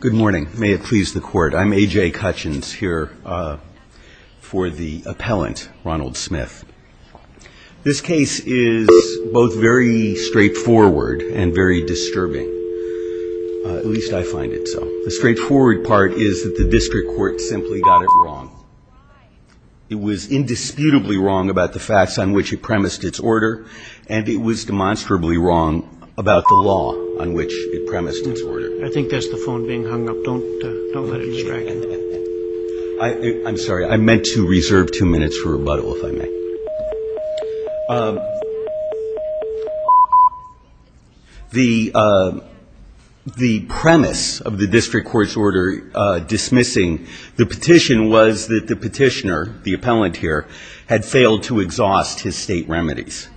Good morning. May it please the court. I'm A.J. Cutchins here for the appellant, Ronald Smith. This case is both very straightforward and very disturbing. At least I find it so. The straightforward part is that the district court simply got it wrong. It was indisputably wrong about the facts on which it premised its order, and it was demonstrably wrong about the law on which it premised its order. I think that's the phone being hung up. Don't let it distract you. I'm sorry. I meant to reserve two minutes for rebuttal, if I may. The premise of the district court's order dismissing the petition was that the petitioner, the appellant here, had failed to exhaust his State remedies.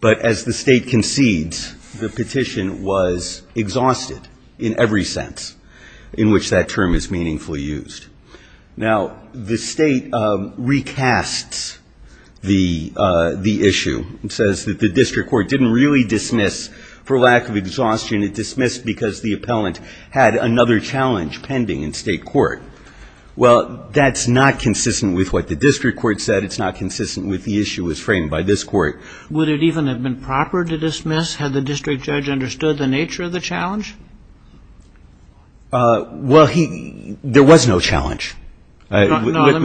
But as the State concedes, the petition was exhausted in every sense in which that term is meaningfully used. Now, the State recasts the issue and says that the district court didn't really dismiss for lack of exhaustion. It dismissed because the appellant had another challenge pending in State court. Well, that's not consistent with what the district court said. It's not consistent with the issue as framed by this court. Would it even have been proper to dismiss had the district judge understood the nature of the challenge? Well, there was no challenge. No, let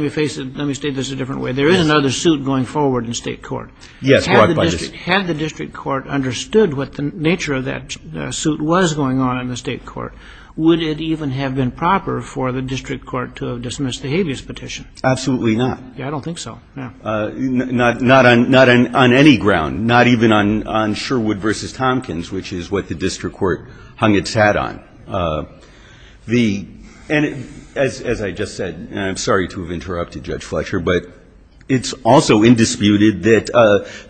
me face it. Let me state this a different way. There is another suit going forward in State court. Yes. Had the district court understood what the nature of that suit was going on in the State court, would it even have been proper for the district court to have dismissed the habeas petition? Absolutely not. I don't think so. Not on any ground. Not even on Sherwood v. Tompkins, which is what the district court hung its hat on. And as I just said, and I'm sorry to have interrupted Judge Fletcher, but it's also indisputed that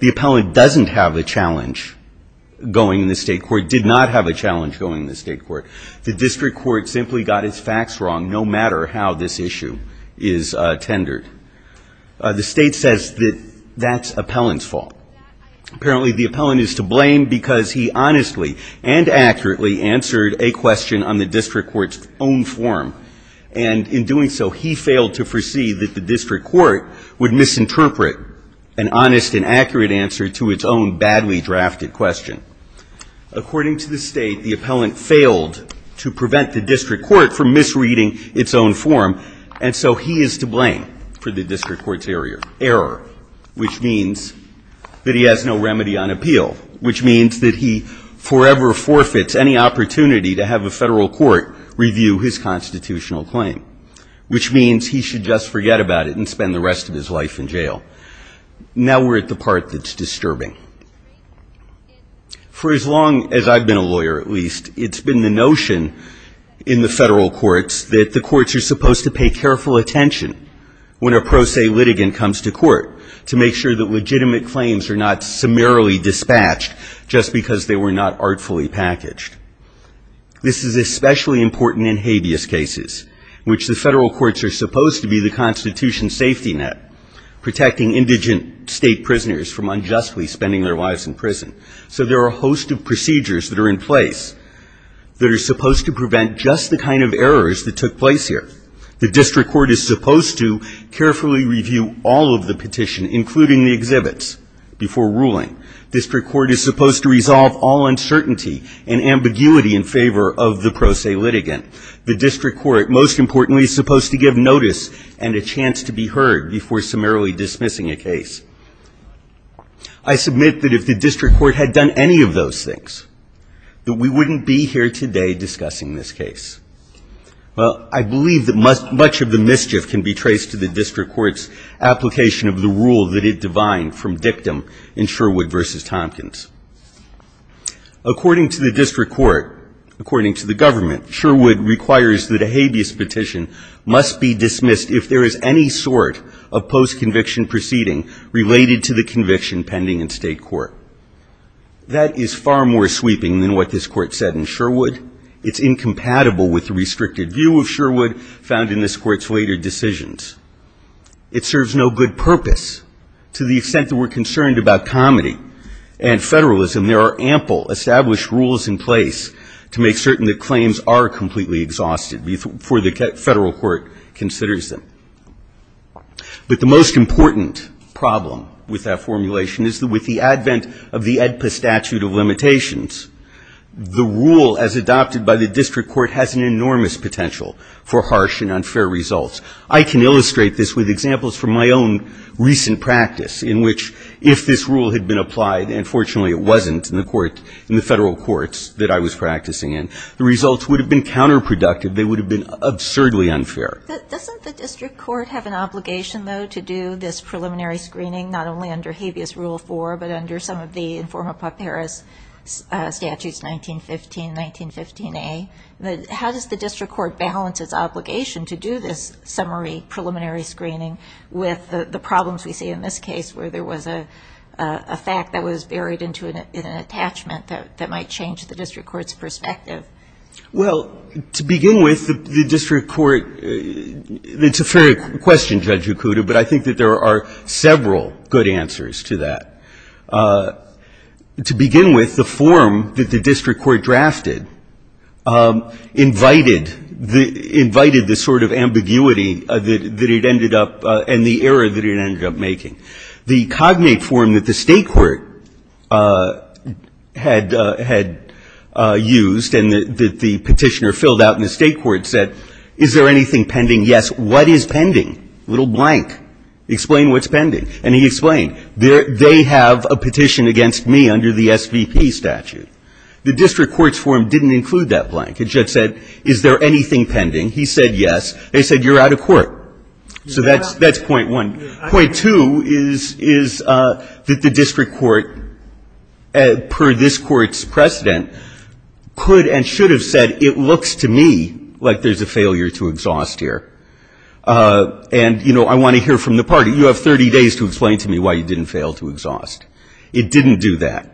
the appellant doesn't have a challenge going in the State court, did not have a challenge going in the State court. The district court simply got its facts wrong no matter how this issue is tendered. The State says that that's appellant's fault. Apparently the appellant is to blame because he honestly and accurately answered a question on the district court's own form. And in doing so, he failed to foresee that the district court would misinterpret an honest and accurate answer to its own badly drafted question. According to the State, the appellant failed to prevent the district court from misreading its own form, and so he is to blame for the district court's error, which means that he has no remedy on appeal, which means that he forever forfeits any opportunity to have a Federal court review his constitutional claim, which means he should just forget about it and spend the rest of his life in jail. Now we're at the part that's disturbing. For as long as I've been a lawyer, at least, it's been the notion in the Federal courts that the courts are supposed to pay careful attention when a pro se litigant comes to court to make sure that legitimate claims are not summarily dispatched just because they were not artfully packaged. This is especially important in habeas cases, which the Federal courts are supposed to be the Constitution's safety net, protecting indigent State prisoners from unjustly spending their lives in prison. So there are a host of procedures that are in place that are supposed to prevent just the kind of errors that took place here. The district court is supposed to carefully review all of the petition, including the exhibits, before ruling. District court is supposed to resolve all uncertainty and ambiguity in favor of the pro se litigant. The district court, most importantly, is supposed to give notice and a chance to be heard before summarily dismissing a case. I submit that if the district court had done any of those things, that we wouldn't be here today discussing this case. Well, I believe that much of the mischief can be traced to the district court's application of the rule that it divined from dictum in Sherwood v. Tompkins. According to the district court, according to the government, Sherwood requires that a habeas petition must be dismissed if there is any sort of post-conviction proceeding related to the conviction pending in State court. That is far more sweeping than what this court said in Sherwood. It's incompatible with the restricted view of Sherwood found in this court's later decisions. It serves no good purpose to the extent that we're concerned about comedy and federalism. There are ample established rules in place to make certain that claims are completely exhausted before the federal court considers them. But the most important problem with that formulation is that with the advent of the AEDPA statute of limitations, the rule as adopted by the district court has an enormous potential for harsh and unfair results. I can illustrate this with examples from my own recent practice in which if this rule had been applied, and fortunately it wasn't in the court, in the federal courts that I was practicing in, the results would have been counterproductive. They would have been absurdly unfair. Doesn't the district court have an obligation, though, to do this preliminary screening, not only under Habeas Rule 4, but under some of the Informa Paparis statutes, 1915, 1915a? How does the district court balance its obligation to do this summary preliminary screening with the problems we see in this case where there was a fact that was buried into an attachment that might change the district court's perspective? Well, to begin with, the district court — it's a fair question, Judge Okuda, but I think that there are several good answers to that. To begin with, the form that the district court drafted invited the sort of ambiguity that it ended up and the error that it ended up making. The cognate form that the State court had used and that the Petitioner filled out in the State court said, is there anything pending? Yes. A little blank. Explain what's pending. And he explained. They have a petition against me under the SVP statute. The district court's form didn't include that blank. It just said, is there anything pending? He said, yes. They said, you're out of court. So that's point one. Point two is that the district court, per this Court's precedent, could and should have said, it looks to me like there's a failure to exhaust here. And, you know, I want to hear from the party. You have 30 days to explain to me why you didn't fail to exhaust. It didn't do that.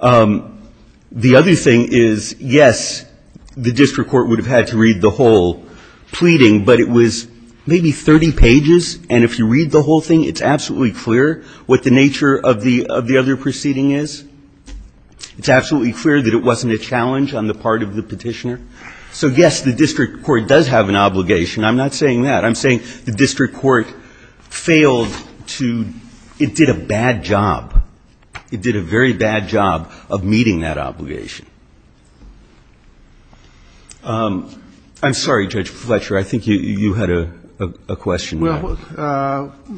The other thing is, yes, the district court would have had to read the whole pleading, but it was maybe 30 pages, and if you read the whole thing, it's absolutely clear what the nature of the other proceeding is. It's absolutely clear that it wasn't a challenge on the part of the Petitioner. So, yes, the district court does have an obligation. I'm not saying that. I'm saying the district court failed to, it did a bad job. It did a very bad job of meeting that obligation. I'm sorry, Judge Fletcher, I think you had a question. Well,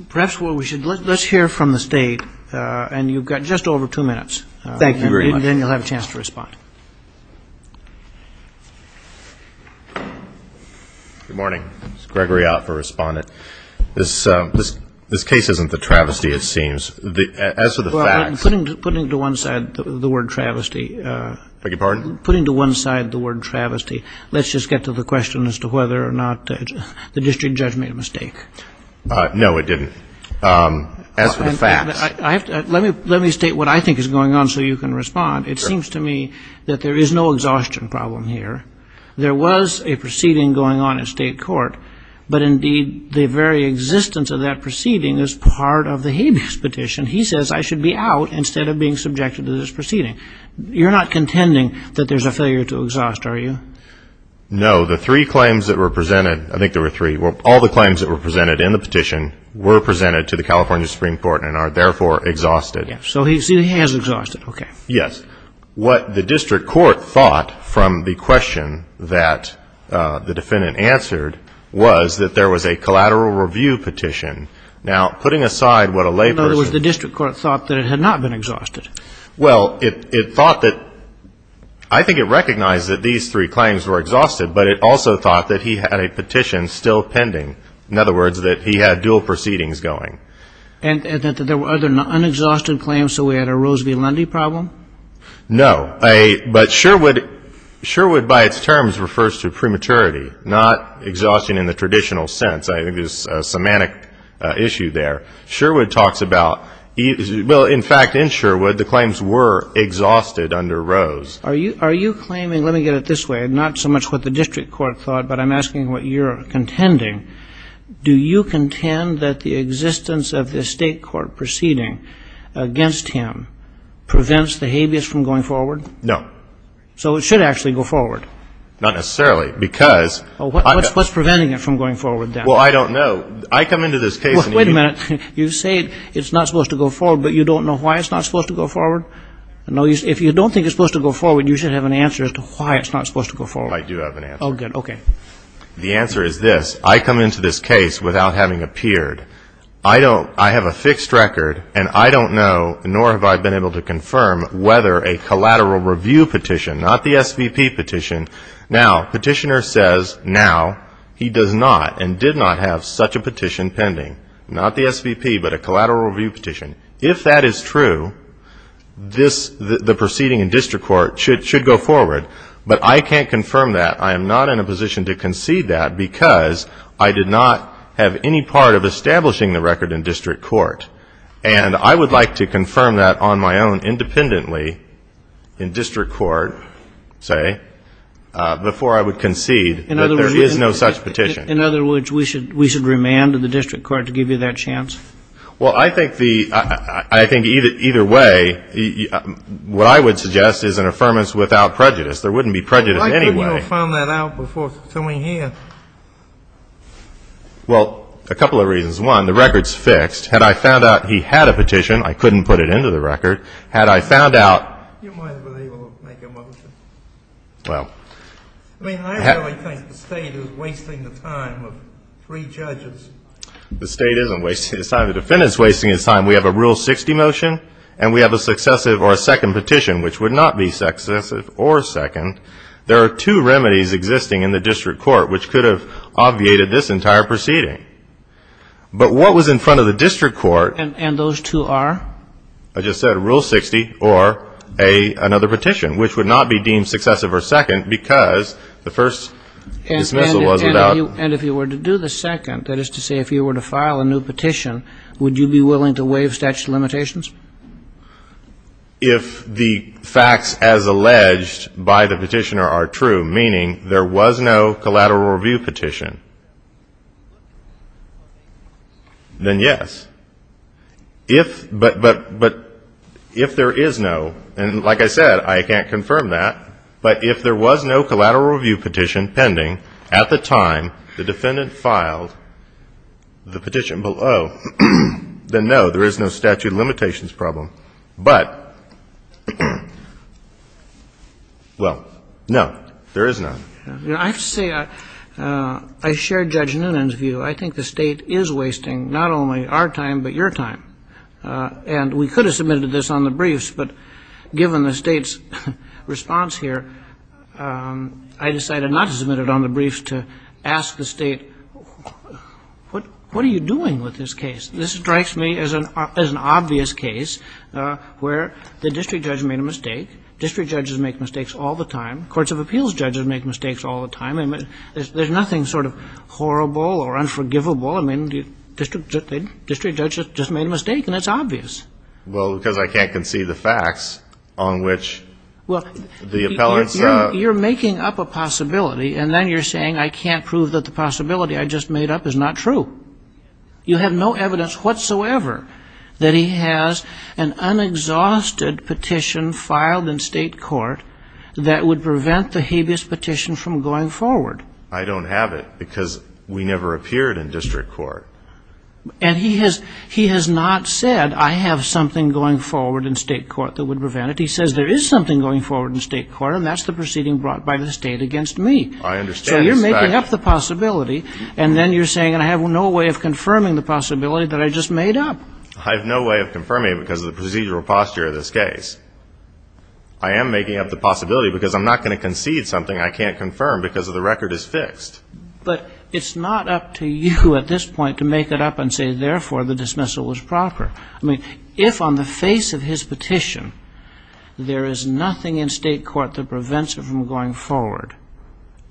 perhaps we should, let's hear from the State, and you've got just over two minutes. Thank you very much. And then you'll have a chance to respond. Good morning. This is Gregory Ott for Respondent. This case isn't the travesty, it seems. As for the facts. Putting to one side the word travesty. Beg your pardon? Putting to one side the word travesty. Let's just get to the question as to whether or not the district judge made a mistake. No, it didn't. As for the facts. Let me state what I think is going on so you can respond. It seems to me that there is no exhaustion problem here. There was a proceeding going on at state court, but indeed the very existence of that proceeding is part of the habeas petition. He says I should be out instead of being subjected to this proceeding. You're not contending that there's a failure to exhaust, are you? No. The three claims that were presented, I think there were three, all the claims that were presented in the petition were presented to the California Supreme Court and are therefore exhausted. So he has exhausted, okay. Yes. What the district court thought from the question that the defendant answered was that there was a collateral review petition. Now, putting aside what a lay person. In other words, the district court thought that it had not been exhausted. Well, it thought that, I think it recognized that these three claims were exhausted, but it also thought that he had a petition still pending. In other words, that he had dual proceedings going. And that there were other unexhausted claims, so we had a Rose v. Lundy problem? No. But Sherwood by its terms refers to prematurity, not exhausting in the traditional sense. I think there's a semantic issue there. Sherwood talks about, well, in fact, in Sherwood the claims were exhausted under Rose. Are you claiming, let me get it this way, not so much what the district court thought, but I'm asking what you're contending. Do you contend that the existence of the state court proceeding against him prevents the habeas from going forward? No. So it should actually go forward? Not necessarily, because. What's preventing it from going forward then? Well, I don't know. I come into this case. Wait a minute. You say it's not supposed to go forward, but you don't know why it's not supposed to go forward? If you don't think it's supposed to go forward, you should have an answer as to why it's not supposed to go forward. I do have an answer. Oh, good. Okay. The answer is this. I come into this case without having appeared. I don't, I have a fixed record, and I don't know nor have I been able to confirm whether a collateral review petition, not the SVP petition. Now, Petitioner says now he does not and did not have such a petition pending. Not the SVP, but a collateral review petition. If that is true, this, the proceeding in district court should go forward, but I can't confirm that. I am not in a position to concede that because I did not have any part of establishing the record in district court. And I would like to confirm that on my own independently in district court, say, before I would concede that there is no such petition. In other words, we should remand the district court to give you that chance? Well, I think the, I think either way, what I would suggest is an affirmance without prejudice. There wouldn't be prejudice anyway. You might have found that out before sitting here. Well, a couple of reasons. One, the record's fixed. Had I found out he had a petition, I couldn't put it into the record. Had I found out — You might have been able to make a motion. Well — I mean, I really think the State is wasting the time of three judges. The State isn't wasting its time. The defendant's wasting its time. We have a Rule 60 motion, and we have a successive or a second petition, which would not be successive or second. There are two remedies existing in the district court which could have obviated this entire proceeding. But what was in front of the district court — And those two are? I just said a Rule 60 or another petition, which would not be deemed successive or second because the first dismissal was without — And if you were to do the second, that is to say if you were to file a new petition, would you be willing to waive statute of limitations? If the facts as alleged by the petitioner are true, meaning there was no collateral review petition, then yes. If — but if there is no — and like I said, I can't confirm that, but if there was no collateral review petition pending at the time the defendant filed the petition below, then no, there is no statute of limitations problem. But, well, no, there is none. I have to say I share Judge Noonan's view. I think the State is wasting not only our time but your time. And we could have submitted this on the briefs, but given the State's response here, I decided not to submit it on the briefs to ask the State, what are you doing with this case? This strikes me as an obvious case where the district judge made a mistake. District judges make mistakes all the time. Courts of appeals judges make mistakes all the time. And there's nothing sort of horrible or unforgivable. I mean, the district judge just made a mistake, and it's obvious. Well, because I can't conceive the facts on which the appellants — You're making up a possibility, and then you're saying I can't prove that the possibility I just made up is not true. You have no evidence whatsoever that he has an unexhausted petition filed in State court that would prevent the habeas petition from going forward. I don't have it because we never appeared in district court. And he has not said, I have something going forward in State court that would prevent it. He says there is something going forward in State court, and that's the proceeding brought by the State against me. I understand this fact. So you're making up the possibility, and then you're saying I have no way of confirming the possibility that I just made up. I have no way of confirming it because of the procedural posture of this case. I am making up the possibility because I'm not going to concede something I can't confirm because the record is fixed. But it's not up to you at this point to make it up and say, therefore, the dismissal was proper. I mean, if on the face of his petition, there is nothing in State court that prevents it from going forward,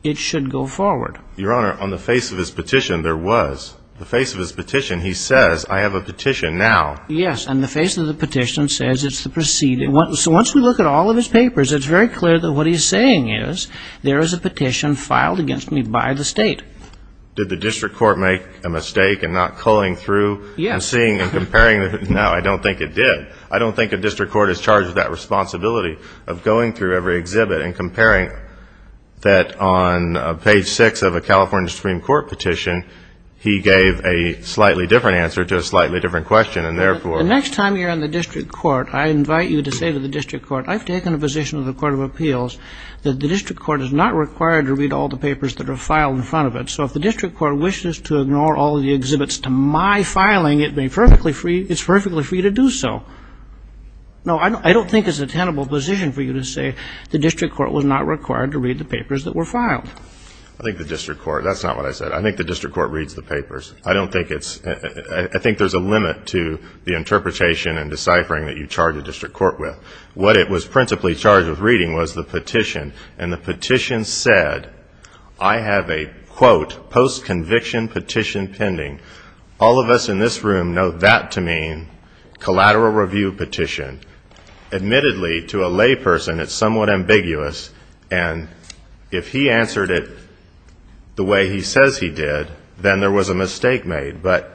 it should go forward. Your Honor, on the face of his petition, there was. The face of his petition, he says, I have a petition now. Yes, and the face of the petition says it's the proceeding. So once we look at all of his papers, it's very clear that what he's saying is there is a petition filed against me by the State. Did the district court make a mistake in not culling through and seeing and comparing? No, I don't think it did. I don't think a district court is charged with that responsibility of going through every exhibit and comparing that on page 6 of a California Supreme Court petition, he gave a slightly different answer to a slightly different question, and therefore. The next time you're in the district court, I invite you to say to the district court, I've taken a position of the Court of Appeals that the district court is not required to read all the papers that are filed in front of it. So if the district court wishes to ignore all the exhibits to my filing, it's perfectly free to do so. No, I don't think it's a tenable position for you to say the district court was not required to read the papers that were filed. I think the district court. That's not what I said. I think the district court reads the papers. I think there's a limit to the interpretation and deciphering that you charge a district court with. What it was principally charged with reading was the petition. And the petition said, I have a, quote, post-conviction petition pending. All of us in this room know that to mean collateral review petition. Admittedly, to a layperson, it's somewhat ambiguous. And if he answered it the way he says he did, then there was a mistake made. But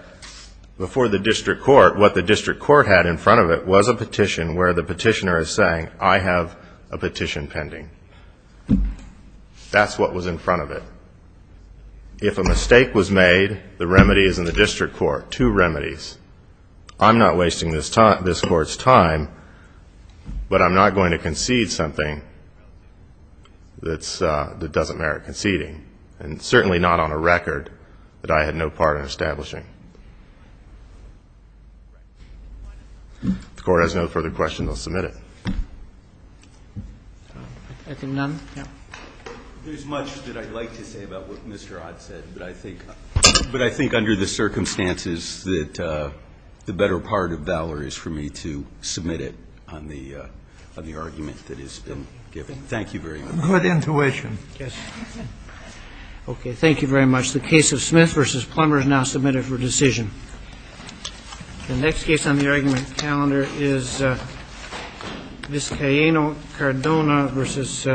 before the district court, what the district court had in front of it was a petition where the petitioner is saying, I have a petition pending. That's what was in front of it. If a mistake was made, the remedy is in the district court. Two remedies. I'm not wasting this court's time, but I'm not going to concede something that doesn't merit conceding, and certainly not on a record that I had no part in establishing. If the court has no further questions, I'll submit it. I see none. There's much that I'd like to say about what Mr. Ott said, but I think under the circumstances that the better part of valor is for me to submit it on the argument that has been given. Thank you very much. Good intuition. Yes. Okay, thank you very much. The case of Smith v. Plummer is now submitted for decision. The next case on the argument calendar is this Cayena Cardona versus Casey.